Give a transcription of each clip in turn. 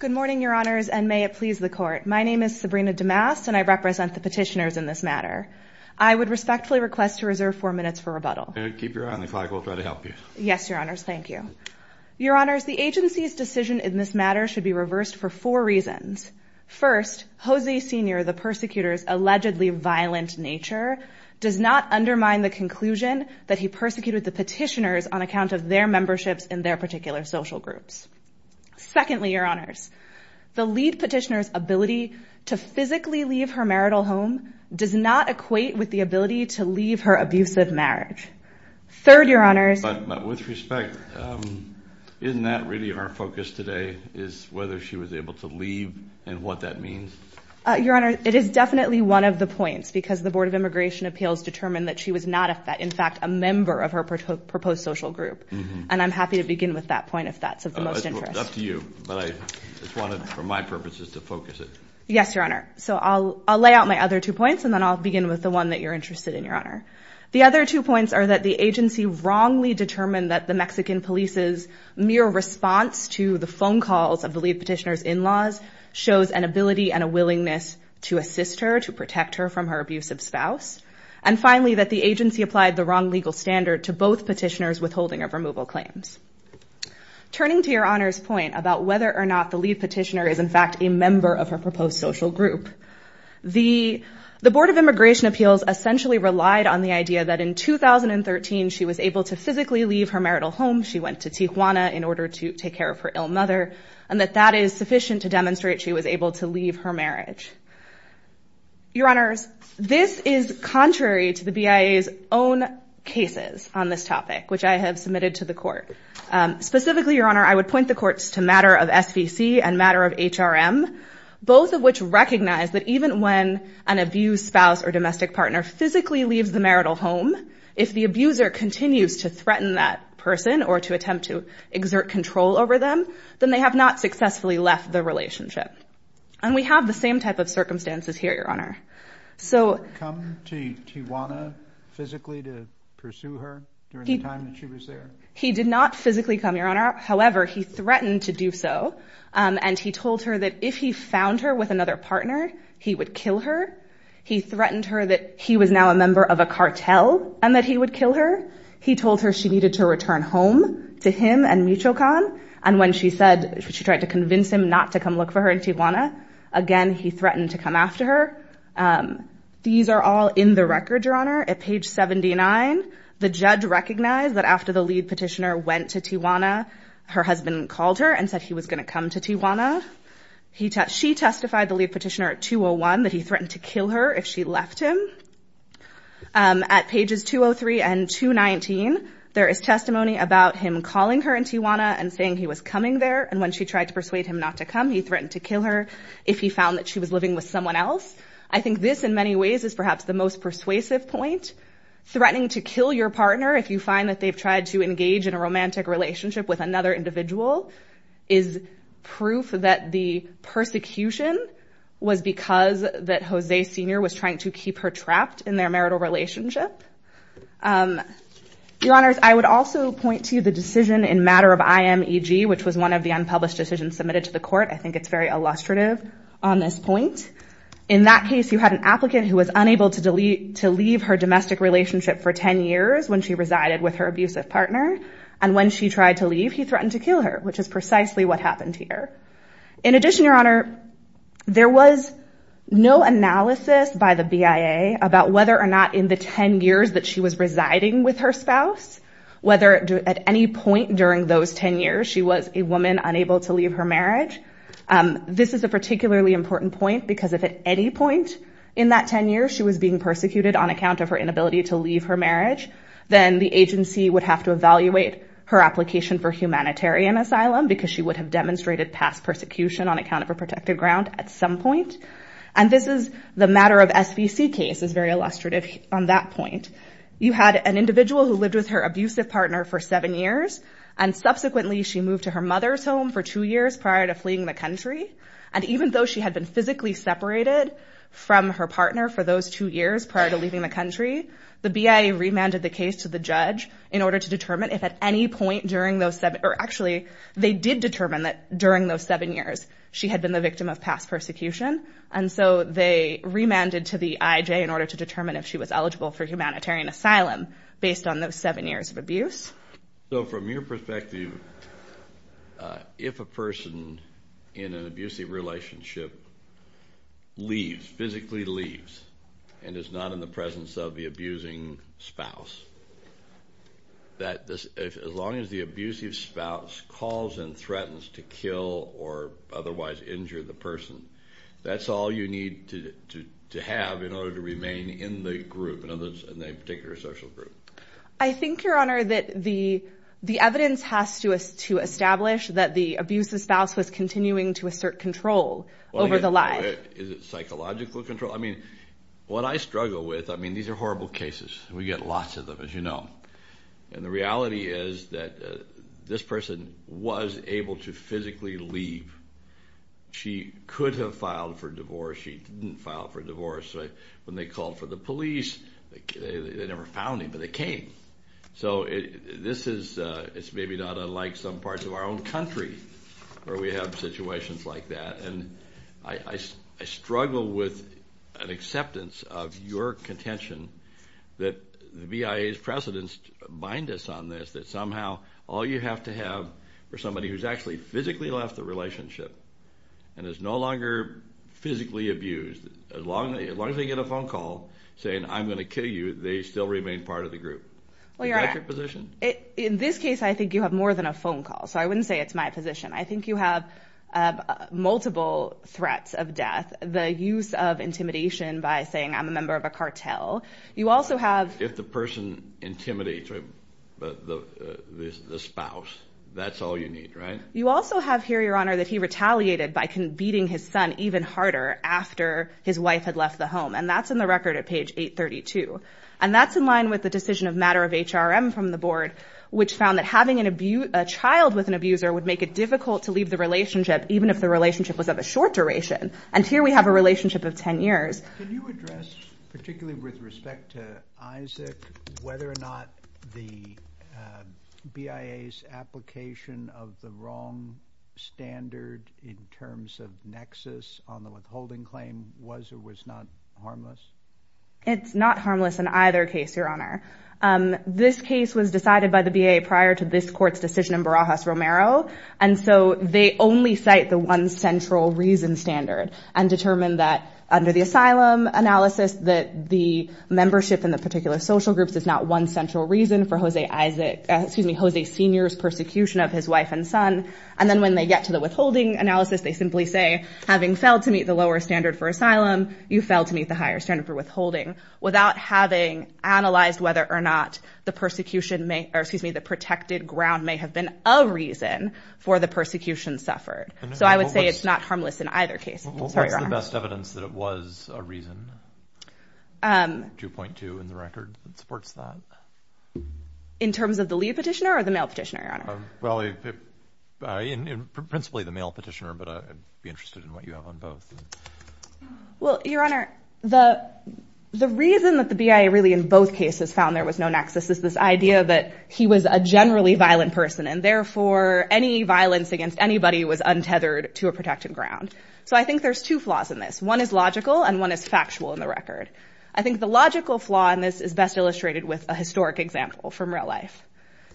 Good morning, Your Honors, and may it please the Court. My name is Sabrina DeMast, and I represent the petitioners in this matter. I would respectfully request to reserve four minutes for rebuttal. Keep your eye on the flag. We'll try to help you. Yes, Your Honors. Thank you. Your Honors, the agency's decision in this matter should be reversed for four reasons. First, Jose Sr., the persecutor's allegedly violent nature, does not undermine the conclusion that he persecuted the petitioners on account of their memberships in their particular social groups. Secondly, Your Honors, the lead petitioner's ability to physically leave her marital home does not equate with the ability to leave her abusive marriage. Third, Your Honors... But with respect, isn't that really our focus today, is whether she was able to leave and what that means? Your Honor, it is definitely one of the points, because the Board of Immigration Appeals determined that she was not, in fact, a member of her proposed social group. And I'm happy to begin with that point, if that's of the most interest. It's up to you, but I just wanted, for my purposes, to focus it. Yes, Your Honor. So I'll lay out my other two points, and then I'll begin with the one that you're interested in, Your Honor. The other two points are that the agency wrongly determined that the Mexican police's mere response to the phone calls of the lead petitioner's in-laws shows an ability and a willingness to assist her, to protect her from her abusive spouse. And finally, that the agency applied the wrong legal standard to both petitioners' withholding of removal claims. Turning to Your Honor's point about whether or not the lead petitioner is, in fact, a member of her proposed social group, the Board of Immigration Appeals essentially relied on the idea that in 2013, she was able to physically leave her marital home. She went to Tijuana in order to take care of her ill mother, and that that is sufficient to demonstrate she was able to leave her marriage. Your Honors, this is contrary to the BIA's own cases on this topic, which I have submitted to the court. Specifically, Your Honor, I would point the courts to matter of SVC and matter of HRM, both of which recognize that even when an abused spouse or domestic partner physically leaves the marital home, if the abuser continues to threaten that person or to attempt to exert control over them, then they have not successfully left the relationship. And we have the same type of circumstances here, Your Honor. So come to Tijuana physically to pursue her during the time that she was there? He did not physically come, Your Honor. However, he threatened to do so, and he told her that if he found her with another partner, he would kill her. He threatened her that he was now a member of a cartel and that he would kill her. He told her she needed to return home to him and Michoacan, and when she said she tried to convince him not to come look for her in Tijuana, again, he threatened to come after her. These are all in the record, Your Honor. At page 79, the judge recognized that after the lead petitioner went to Tijuana, her husband called her and said he was going to come to Tijuana. She testified, the lead petitioner at 201, that he threatened to kill her if she left him. At pages 203 and 219, there is testimony about him calling her in Tijuana and saying he was coming there, and when she tried to persuade him not to come, he threatened to kill her if he found that she was living with someone else. I think this, in many ways, is perhaps the most persuasive point. Threatening to kill your partner if you find that they've tried to engage in a romantic relationship with another individual is proof that the persecution was because that Jose Sr. was trying to keep her trapped in their marital relationship. Your Honors, I would also point to the decision in matter of IMEG, which was one of the unpublished decisions submitted to the court. I think it's very illustrative on this point. In that case, you had an applicant who was unable to leave her domestic relationship for 10 years when she resided with her abusive partner, and when she tried to leave, he threatened to kill her, which is precisely what happened here. In addition, Your Honor, there was no analysis by the BIA about whether or not in the 10 years that she was residing with her spouse, whether at any point during those 10 years, she was a woman unable to leave her marriage. This is a particularly important point because if at any point in that 10 years she was being persecuted on account of her inability to leave her marriage, then the she would have demonstrated past persecution on account of her protected ground at some point. And this is the matter of SVC case is very illustrative on that point. You had an individual who lived with her abusive partner for seven years, and subsequently she moved to her mother's home for two years prior to fleeing the country. And even though she had been physically separated from her partner for those two years prior to leaving the country, the BIA remanded the case to the judge in order to determine if at any point during those seven, or actually they did determine that during those seven years, she had been the victim of past persecution. And so they remanded to the IJ in order to determine if she was eligible for humanitarian asylum based on those seven years of abuse. So from your perspective, if a person in an abusive relationship leaves, physically leaves, and is not in the presence of the abusing spouse, that as long as the abusive spouse calls and threatens to kill or otherwise injure the person, that's all you need to have in order to remain in the group, in the particular social group. I think, Your Honor, that the evidence has to establish that the abusive spouse was continuing to assert control over the life. Is it psychological control? I mean, what I struggle with, I mean, these are horrible cases. We get lots of them, as you know. And the reality is that this person was able to physically leave. She could have filed for divorce. She didn't file for divorce. When they called for the police, they never found him, but they came. So this is, it's maybe not unlike some parts of our own country where we have situations like that. And I struggle with an acceptance of your contention that the BIA's precedents bind us on this, that somehow all you have to have for somebody who's actually physically left the relationship and is no longer physically abused, as long as they get a phone call saying, I'm going to kill you, they still remain part of the group. Is that your position? In this case, I think you have more than a phone call. So I wouldn't say it's my position. I think you have multiple threats of death. The use of intimidation by saying, I'm a member of a cartel. You also have... If the person intimidates the spouse, that's all you need, right? You also have here, Your Honor, that he retaliated by beating his son even harder after his wife had left the home. And that's in the record at page 832. And that's in line with the decision of matter of HRM from the board, which found that having a child with an abuser would make it difficult to leave the relationship, even if the relationship was of a short duration. And here we have a relationship of 10 years. Can you address, particularly with respect to Isaac, whether or not the BIA's application of the wrong standard in terms of nexus on the withholding claim was or was not harmless? It's not harmless in either case, Your Honor. This case was decided by the BIA prior to this court's decision in Barajas-Romero. And so they only cite the one central reason standard and determined that under the asylum analysis, that the membership in the particular social groups is not one central reason for Jose Sr.'s persecution of his wife and son. And then when they get to the withholding analysis, they simply say, having failed to meet the higher standard for withholding without having analyzed whether or not the persecution may or excuse me, the protected ground may have been a reason for the persecution suffered. So I would say it's not harmless in either case. What's the best evidence that it was a reason? 2.2 in the record that supports that. In terms of the leave petitioner or the mail petitioner, Your Honor? Well, principally the mail petitioner, but I'd be interested in what you have on both. Well, Your Honor, the reason that the BIA really in both cases found there was no nexus is this idea that he was a generally violent person and therefore any violence against anybody was untethered to a protected ground. So I think there's two flaws in this. One is logical and one is factual in the record. I think the logical flaw in this is best illustrated with a historic example from real life.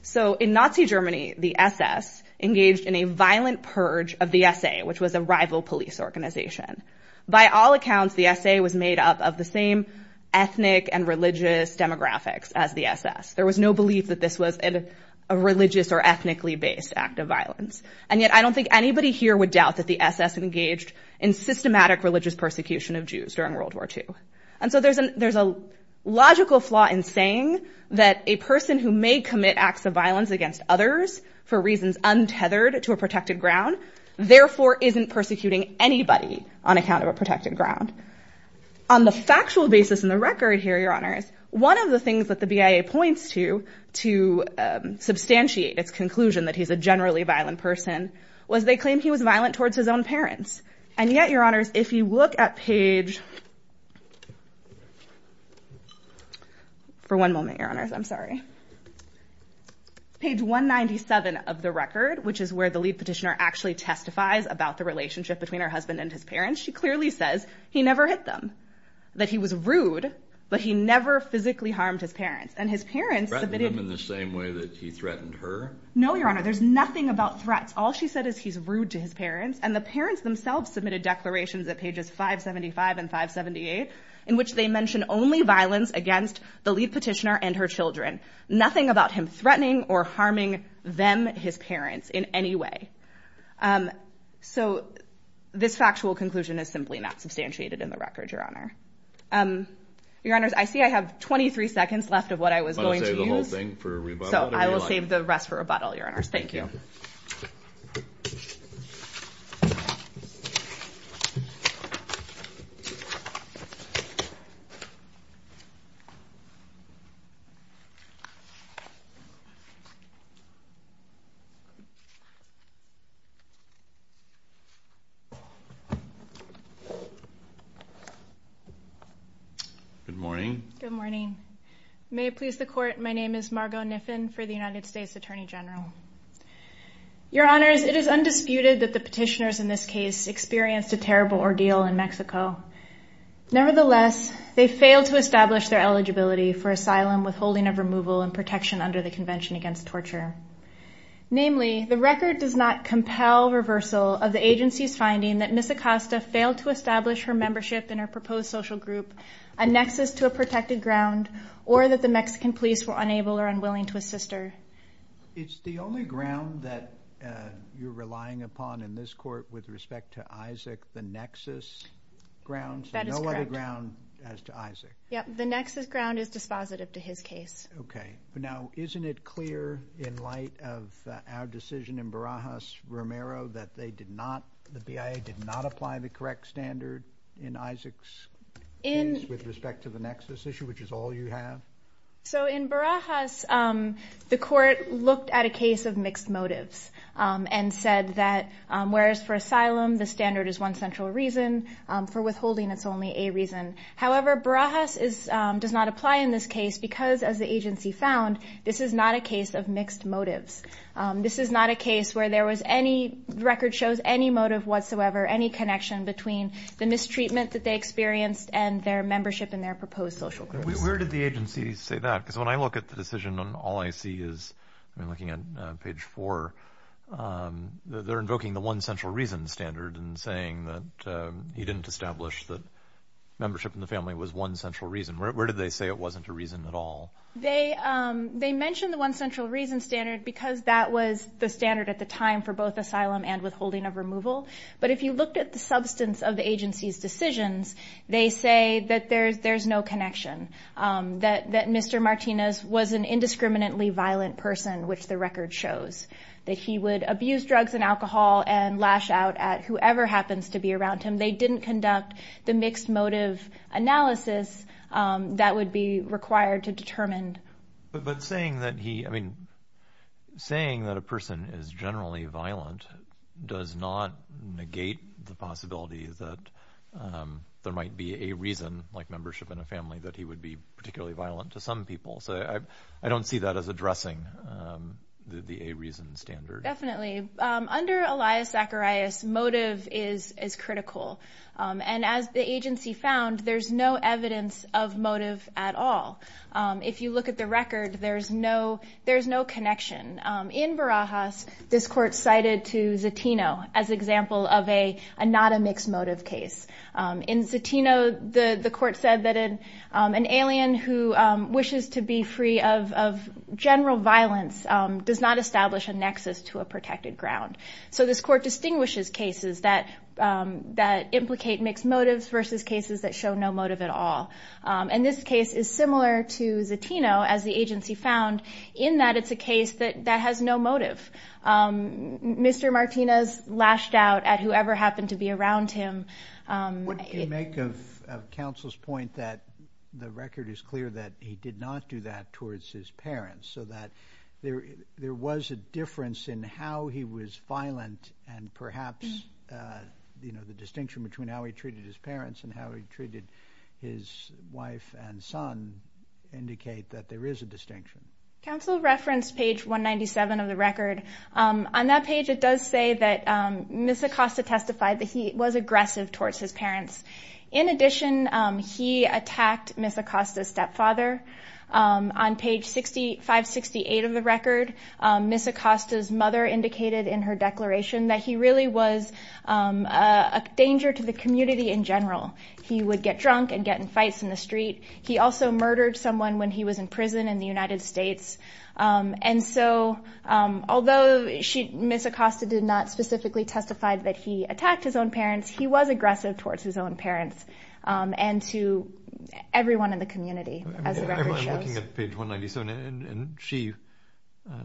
So in Nazi Germany, the SS engaged in a violent purge of the SA, which was a rival police organization. By all accounts, the SA was made up of the same ethnic and religious demographics as the SS. There was no belief that this was a religious or ethnically based act of violence. And yet I don't think anybody here would doubt that the SS engaged in systematic religious persecution of Jews during World War II. And so there's a logical flaw in saying that a person who may commit acts of violence against others for reasons untethered to a protected ground, therefore isn't persecuting anybody on account of a protected ground. On the factual basis in the record here, Your Honors, one of the things that the BIA points to to substantiate its conclusion that he's a generally violent person was they claim he was violent towards his own parents. And yet, Your Honors, if the record, which is where the lead petitioner actually testifies about the relationship between her husband and his parents, she clearly says he never hit them, that he was rude, but he never physically harmed his parents. And his parents submitted- Threatened him in the same way that he threatened her? No, Your Honor. There's nothing about threats. All she said is he's rude to his parents. And the parents themselves submitted declarations at pages 575 and 578 in which they mention only violence against the lead petitioner and her children. Nothing about him threatening or harming them, his parents, in any way. So this factual conclusion is simply not substantiated in the record, Your Honor. Your Honors, I see I have 23 seconds left of what I was going to use. Want to save the whole thing for rebuttal? So I will save the rest for rebuttal, Your Honors. Thank you. Good morning. Good morning. May it please the Court, my name is Margo Niffin for the United States Attorney General. Your Honors, it is undisputed that the petitioners in this case experienced a terrible ordeal in Mexico. Nevertheless, they failed to establish their eligibility for asylum, withholding of removal, and protection under the Convention Against Torture. Namely, the record does not compel reversal of the agency's finding that Ms. Acosta failed to establish her membership in her proposed social group, a nexus to a protected ground, or that the Mexican police were unable or unwilling to assist her. It's the only ground that you're relying upon in this Court with respect to Isaac, the nexus grounds? That is correct. And no other ground as to Isaac? Yes, the nexus ground is dispositive to his case. Okay. Now, isn't it clear in light of our decision in Barajas-Romero that the BIA did not apply the correct standard in Isaac's case with respect to the nexus issue, which is all you have? So in Barajas, the Court looked at a case of mixed motives and said that whereas for asylum the standard is one central reason, for withholding it's only a reason. However, Barajas does not apply in this case because, as the agency found, this is not a case of mixed motives. This is not a case where there was any record shows any motive whatsoever, any connection between the mistreatment that they experienced and their membership in their proposed social group. Where did the agency say that? Because when I look at the decision on all I see is, I'm looking at page four, they're invoking the one central reason standard and saying that he didn't establish that membership in the family was one central reason. Where did they say it wasn't a reason at all? They mentioned the one central reason standard because that was the standard at the time for both asylum and withholding of removal. But if you looked at the substance of the agency's decisions, they say that there's no connection, that Mr. Martinez was an indiscriminately violent person, which the record shows, that he would abuse drugs and alcohol and lash out at whoever happens to be around him. They didn't conduct the mixed motive analysis that would be required to determine. But saying that he, I mean, saying that a person is generally violent does not negate the possibility that there might be a reason, like membership in a family, that he would be particularly violent to some people. So I don't see that as addressing the a reason standard. Definitely. Under Elias Zacharias, motive is critical. And as the agency found, there's no evidence of motive at all. If you look at the record, there's no connection. In Barajas, this court cited to Zatino as example of a not a mixed motive case. In Zatino, the court said that an alien who wishes to be free of general violence does not establish a nexus to a protected ground. So this court distinguishes cases that implicate mixed motives versus cases that show no motive at all. And this case is similar to Zatino, as the agency found, in that it's a case that has no motive. Mr. Martinez lashed out at whoever happened to be around him. What do you make of counsel's point that the record is clear that he did not do that towards his parents, so that there was a difference in how he was violent and perhaps the distinction between how he treated his parents and how he treated his wife and son indicate that there is a distinction? Counsel referenced page 197 of the record. On that page, it does say that Ms. Acosta testified that he was aggressive towards his parents. In addition, he attacked Ms. Acosta's parents. On page 568 of the record, Ms. Acosta's mother indicated in her declaration that he really was a danger to the community in general. He would get drunk and get in fights in the street. He also murdered someone when he was in prison in the United States. And so although Ms. Acosta did not specifically testify that he attacked his own parents, he was aggressive towards his own parents and to everyone in the community, as the record indicates.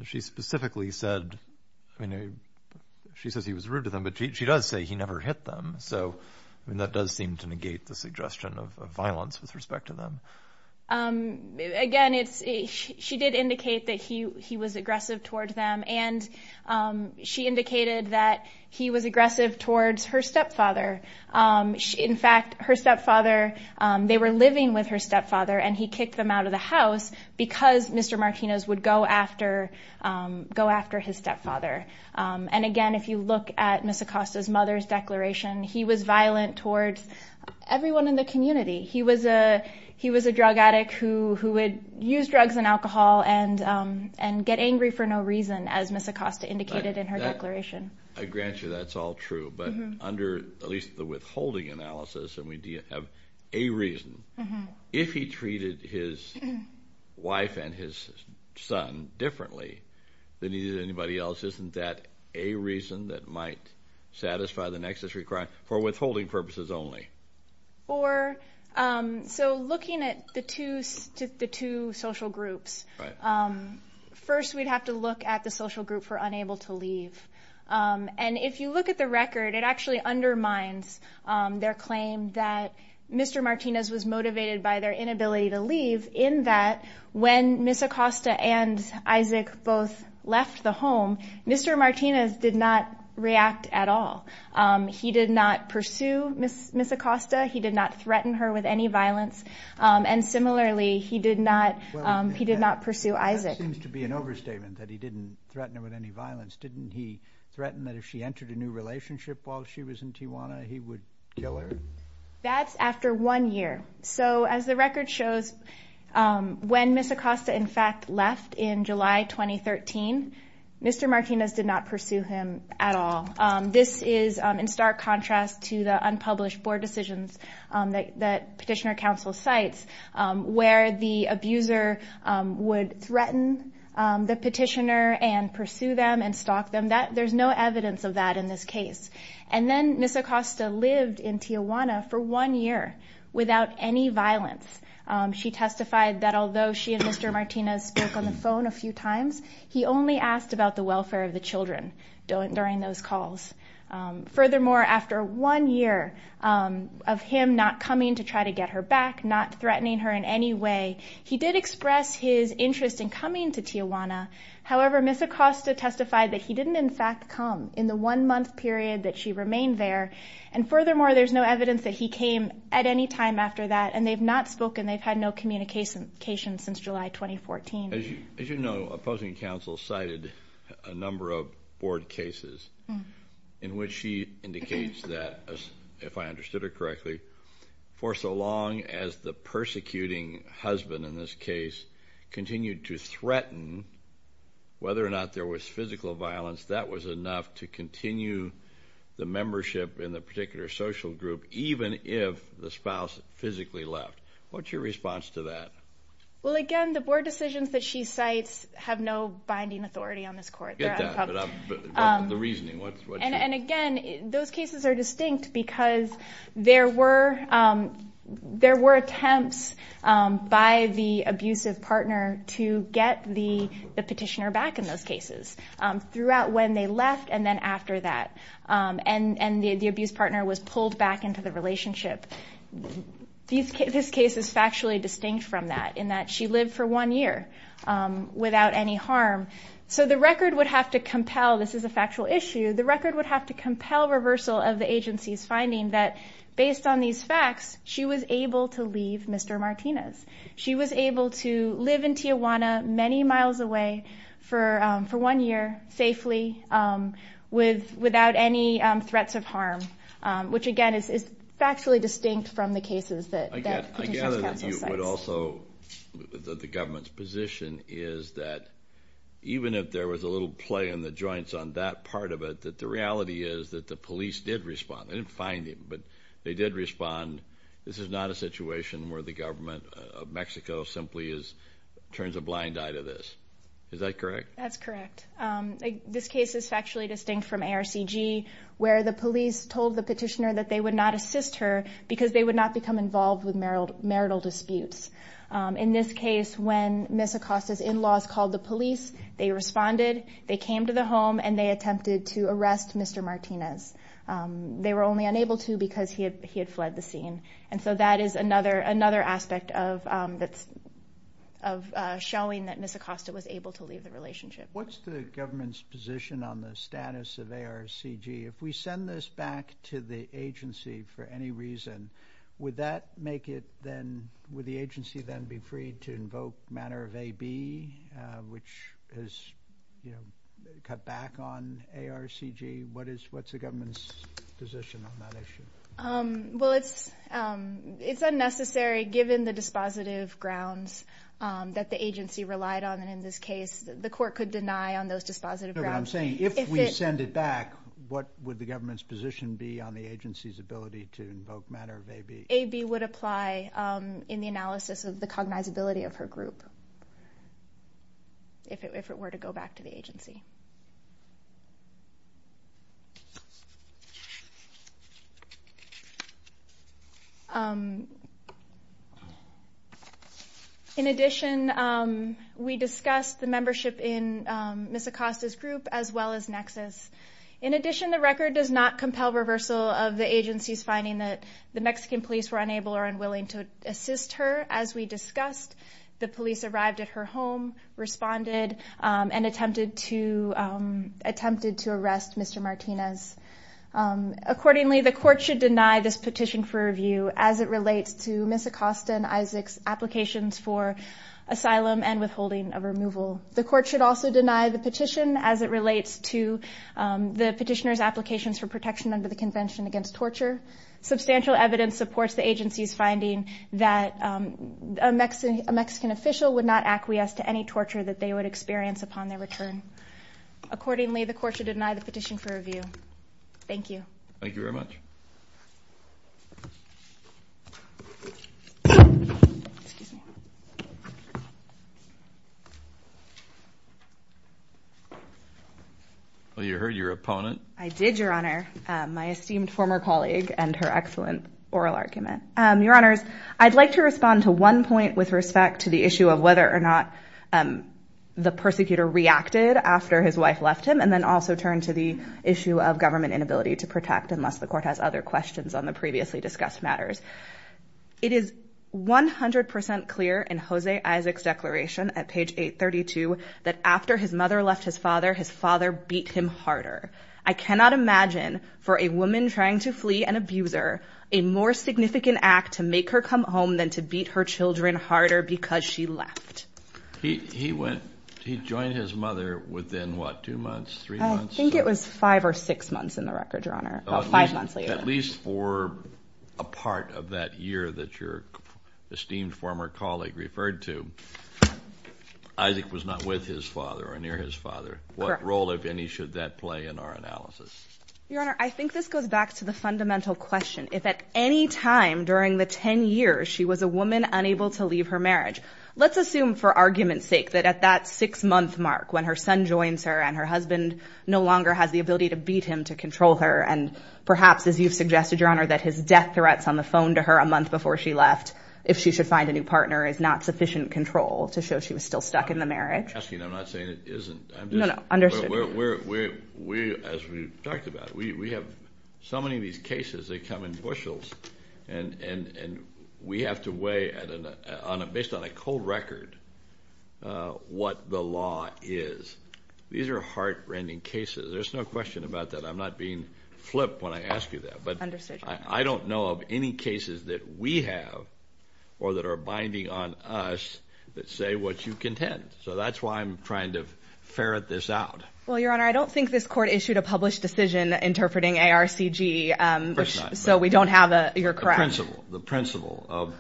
She specifically said, she says he was rude to them, but she does say he never hit them. So that does seem to negate the suggestion of violence with respect to them. Again, she did indicate that he was aggressive towards them and she indicated that he was aggressive towards her stepfather. In fact, her stepfather, they were living with her in their house because Mr. Martinez would go after his stepfather. And again, if you look at Ms. Acosta's mother's declaration, he was violent towards everyone in the community. He was a drug addict who would use drugs and alcohol and get angry for no reason, as Ms. Acosta indicated in her declaration. I grant you that's all true, but under at least the withholding analysis, and we do have a reason. If he treated his wife and his son differently than he did anybody else, isn't that a reason that might satisfy the nexus for withholding purposes only? So looking at the two social groups, first we'd have to look at the social group for Mr. Martinez was motivated by their inability to leave in that when Ms. Acosta and Isaac both left the home, Mr. Martinez did not react at all. He did not pursue Ms. Acosta. He did not threaten her with any violence. And similarly, he did not pursue Isaac. That seems to be an overstatement that he didn't threaten her with any violence. Didn't he threaten that if she entered a new relationship while she was in Tijuana, he would kill her? That's after one year. So as the record shows, when Ms. Acosta in fact left in July 2013, Mr. Martinez did not pursue him at all. This is in stark contrast to the unpublished board decisions that Petitioner Council cites, where the abuser would threaten the petitioner and pursue them and stalk them. There's no evidence of that in this case. And then Ms. Acosta lived in Tijuana for one year without any violence. She testified that although she and Mr. Martinez spoke on the phone a few times, he only asked about the welfare of the children during those calls. Furthermore, after one year of him not coming to try to get her back, not threatening her in any way, he did express his interest in coming to Tijuana. However, Ms. Acosta testified that he didn't in fact come in the one month period that she remained there. And furthermore, there's no evidence that he came at any time after that, and they've not spoken. They've had no communication since July 2014. As you know, opposing counsel cited a number of board cases in which she indicates that, if I understood her correctly, for so long as the persecuting husband in this case continued to threaten whether or not there was physical violence, that was enough to continue the membership in the particular social group, even if the spouse physically left. What's your response to that? Well, again, the board decisions that she cites have no binding authority on this court. I get that, but the reasoning, what's yours? And again, those cases are distinct because there were attempts by the abusive partner to get the petitioner back in those cases, throughout when they left and then after that, and the abusive partner was pulled back into the relationship. This case is factually distinct from that, in that she lived for one year without any harm. So the record would have to compel, this is a factual issue, the record would have to compel reversal of the agency's finding that, based on these facts, she was able to leave Mr. Martinez. She was able to leave Tijuana, many miles away, for one year, safely, without any threats of harm, which again is factually distinct from the cases that Petitioner's counsel cites. I gather that you would also, that the government's position is that even if there was a little play in the joints on that part of it, that the reality is that the police did respond. They didn't find him, but they did respond. This is not a situation where the government of Mexico simply turns a blind eye to this. Is that correct? That's correct. This case is factually distinct from ARCG, where the police told the petitioner that they would not assist her because they would not become involved with marital disputes. In this case, when Ms. Acosta's in-laws called the police, they responded, they came to the home and they attempted to arrest Mr. Martinez. They were only unable to because he had fled the scene. That is another aspect of showing that Ms. Acosta was able to leave the relationship. What's the government's position on the status of ARCG? If we send this back to the agency for any reason, would that make it then, would the agency then be free to invoke manner of AB, which has cut back on ARCG? What's the government's position on that issue? Well, it's unnecessary given the dispositive grounds that the agency relied on. In this case, the court could deny on those dispositive grounds. No, but I'm saying, if we send it back, what would the government's position be on the agency's ability to invoke manner of AB? AB would apply in the analysis of the cognizability of her group, if it were to go back to the agency. In addition, we discussed the membership in Ms. Acosta's group as well as Nexus. In addition, the record does not compel reversal of the agency's finding that the Mexican police were unable or unwilling to assist her. As we discussed, the police arrived at her home, responded, and attempted to arrest Mr. Martinez. Accordingly, the court should deny this petition for review as it relates to Ms. Acosta and Isaac's applications for asylum and withholding of removal. The court should also deny the petition as it relates to the petitioner's applications for protection under the Convention Against Torture. Substantial evidence supports the agency's position that a Mexican official would not acquiesce to any torture that they would experience upon their return. Accordingly, the court should deny the petition for review. Thank you. Thank you very much. Well, you heard your opponent. I did, Your Honor, my esteemed former colleague and her excellent oral argument. Your Honors, I'd like to respond to one point with respect to the issue of whether or not the persecutor reacted after his wife left him and then also turn to the issue of government inability to protect unless the court has other questions on the previously discussed matters. It is 100% clear in Jose Isaac's declaration at page 832 that after his mother left his father, his father beat him harder. I cannot imagine for a woman trying to flee an abuser a more difficult task than to beat her children harder because she left. He joined his mother within, what, two months, three months? I think it was five or six months in the record, Your Honor. At least for a part of that year that your esteemed former colleague referred to, Isaac was not with his father or near his father. What role, if any, should that play in our analysis? Your Honor, I think this goes back to the fundamental question. If at any time during the 10 years she was a woman unable to leave her marriage, let's assume for argument's sake that at that six-month mark when her son joins her and her husband no longer has the ability to beat him to control her and perhaps, as you've suggested, Your Honor, that his death threats on the phone to her a month before she left, if she should find a new partner, is not sufficient control to show she was still stuck in the marriage. I'm not asking. I'm not saying it isn't. No, no. Understood. We, as we talked about, we have so many of these cases that come in bushels, and we have to weigh based on a cold record what the law is. These are heart-rending cases. There's no question about that. I'm not being flipped when I ask you that, but I don't know of any cases that we have or that are binding on us that say what you contend. So that's why I'm trying to ferret this out. Well, Your Honor, I don't think this Court issued a published decision interpreting ARCG, so we don't have a, you're correct. The principle of,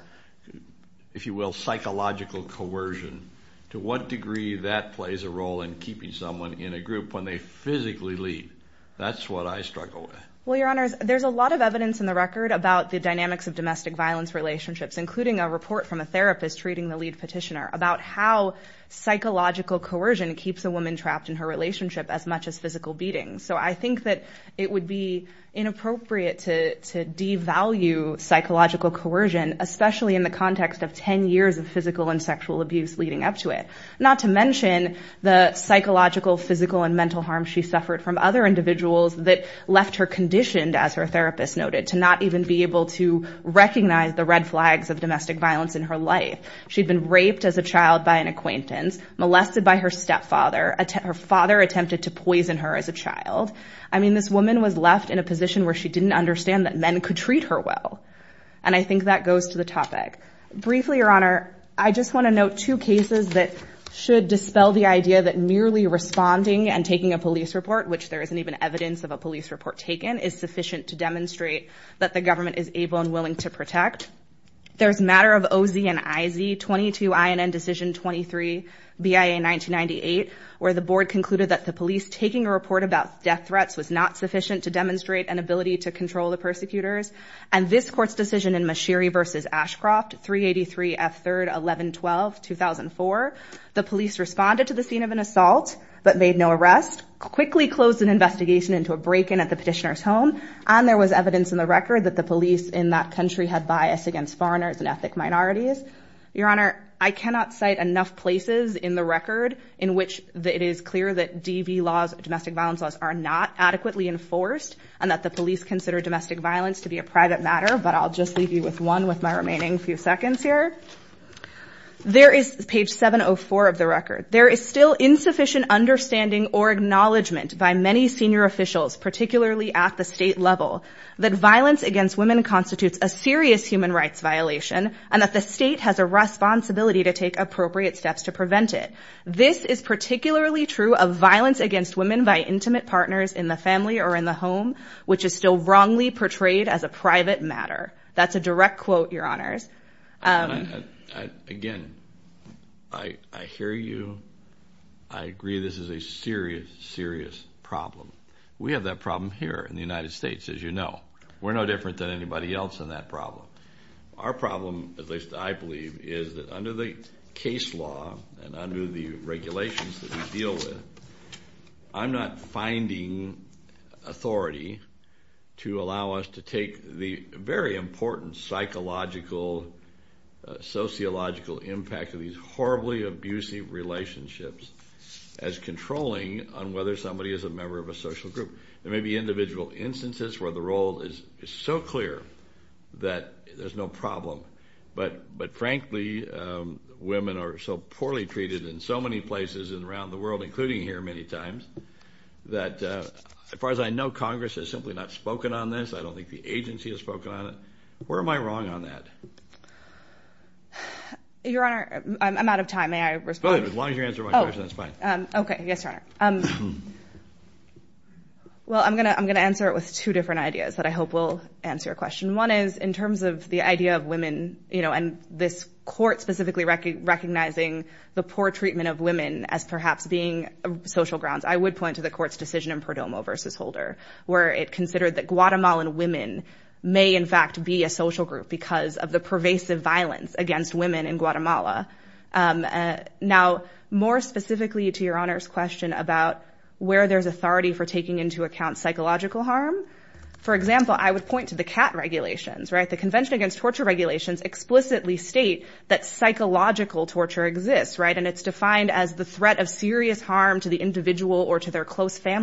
if you will, psychological coercion, to what degree that plays a role in keeping someone in a group when they physically leave, that's what I struggle with. Well, Your Honors, there's a lot of evidence in the record about the dynamics of domestic violence relationships, including a report from a therapist treating the lead petitioner about how psychological coercion keeps a woman trapped in her relationship as much as physical beating. So I think that it would be inappropriate to devalue psychological coercion, especially in the context of 10 years of physical and sexual abuse leading up to it, not to mention the psychological, physical, and mental harm she suffered from other individuals that left her conditioned, as her therapist noted, to not even be able to recognize the red flags of domestic violence in her life. She'd been raped as a child by an acquaintance, molested by her stepfather, her father attempted to poison her as a child. I mean, this woman was left in a position where she didn't understand that men could treat her well. And I think that goes to the topic. Briefly, Your Honor, I just want to note two cases that should dispel the idea that merely responding and taking a police report, which there isn't even evidence of a police report taken, is sufficient to demonstrate that the government is able and willing to protect. There's matter of O.Z. and I.Z. 22 INN Decision 23, BIA 1998, where the board concluded that the police taking a report about death threats was not sufficient to demonstrate an ability to control the persecutors. And this court's decision in Mashiri v. Ashcroft, 383 F. 3rd, 1112, 2004, the police responded to the scene of an assault, but made no arrest, quickly closed an investigation into a break-in at the petitioner's home, and there was evidence in the record that the police in that country had bias against foreigners and ethnic minorities. Your Honor, I cannot cite enough places in the record in which it is clear that DV laws, domestic violence laws, are not adequately enforced, and that the police consider domestic violence to be a private matter, but I'll just leave you with one with my remaining few seconds here. There is, page 704 of the record, there is still insufficient understanding or acknowledgment by many senior officials, particularly at the state level, that violence against women constitutes a serious human rights violation, and that the state has a responsibility to take appropriate steps to prevent it. This is particularly true of violence against women by intimate partners in the family or in the home, which is still wrongly portrayed as a private matter. That's a direct quote, Your Honor. I agree this is a serious, serious problem. We have that problem here in the United States, as you know. We're no different than anybody else in that problem. Our problem, at least I believe, is that under the case law and under the regulations that we deal with, I'm not finding authority to allow us to take the very important psychological, sociological impact of these horribly abusive relationships as controlling on whether somebody is a member of a social group. There may be individual instances where the role is so clear that there's no problem, but frankly, women are so poorly treated in so many places and around the world, including here many times, that as far as I know, Congress has simply not spoken on this. I don't think the agency has spoken on it. Where am I wrong on that? Your Honor, I'm out of time. May I respond? As long as you answer my question, that's fine. Okay. Yes, Your Honor. Well, I'm going to answer it with two different ideas that I hope will answer your question. One is in terms of the idea of women and this court specifically recognizing the poor treatment of women as perhaps being social grounds, I would point to the court's decision in Perdomo v. Holder, where it considered that Guatemalan women may in fact be a social group because of the pervasive violence against women in Guatemala. Now, more specifically to Your Honor's question about where there's authority for taking into account psychological harm, for example, I would point to the CAT regulations, right? The Convention Against Torture regulations explicitly state that psychological torture exists, right? And it's defined as the threat of serious harm to the individual or to their case law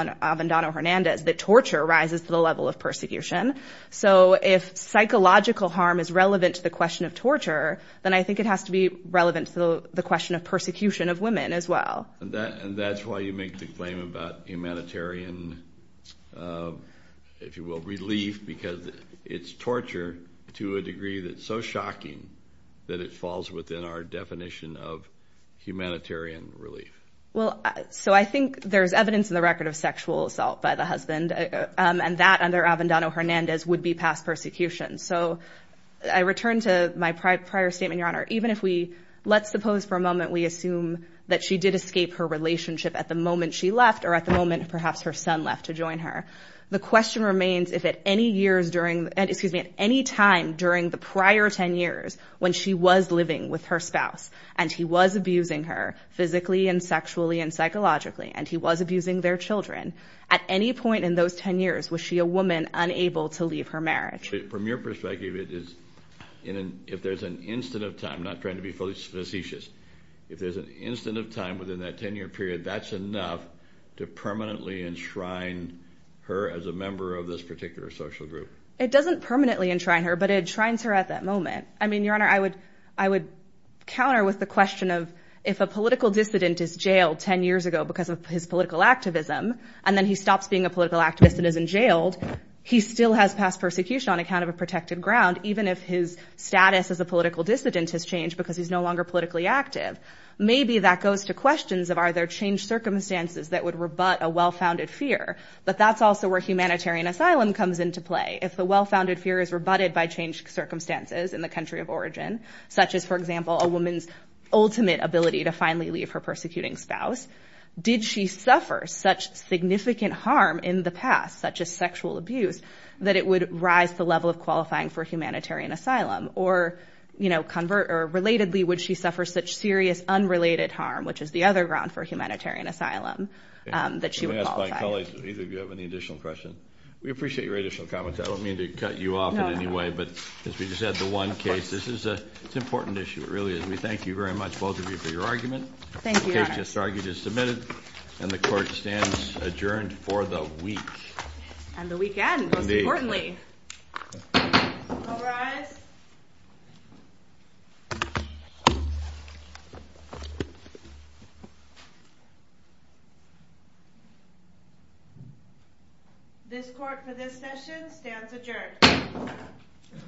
in Avendano-Hernandez that torture rises to the level of persecution. So if psychological harm is relevant to the question of torture, then I think it has to be relevant to the question of persecution of women as well. And that's why you make the claim about humanitarian, if you will, relief because it's torture to a degree that's so shocking that it falls within our definition of humanitarian relief. Well, so I think there's evidence in the record of sexual assault by the husband and that under Avendano-Hernandez would be past persecution. So I return to my prior statement, Your Honor. Even if we, let's suppose for a moment, we assume that she did escape her relationship at the moment she left or at the moment perhaps her son left to join her. The question remains if at any years during, excuse me, at any time during the prior 10 years when she was living with her spouse and he was abusing her physically and sexually and psychologically and he was abusing their children, at any point in those 10 years, was she a woman unable to leave her marriage? From your perspective, if there's an instant of time, not trying to be fully facetious, if there's an instant of time within that 10 year period, that's enough to permanently enshrine her as a member of this particular social group. It doesn't permanently enshrine her, but it enshrines her at that moment. I mean, Your Honor, I would counter with the question of if a political dissident is jailed 10 years ago because of his political activism and then he stops being a political activist and isn't jailed, he still has past persecution on account of a protected ground even if his status as a political dissident has changed because he's no longer politically active. Maybe that goes to questions of are there changed circumstances that would rebut a well-founded fear, but that's also where humanitarian asylum comes into play. If the well-founded fear is rebutted by changed circumstances in the country of origin, such as, for example, a woman's ultimate ability to finally leave her persecuting spouse, did she suffer such significant harm in the past, such as sexual abuse, that it would rise the level of qualifying for humanitarian asylum? Or, you know, convert or relatedly, would she suffer such serious unrelated harm, which is the other ground for humanitarian asylum, that she would qualify? Let me ask my colleagues if either of you have any additional questions. We appreciate your additional comments. I don't mean to cut you off in any way, but as we just had the one case, this is an important issue. It really is. We thank you very much, both of you, for your argument. The case just argued is submitted, and the court stands adjourned for the week. And the weekend, most importantly. All rise. This court for this session stands adjourned.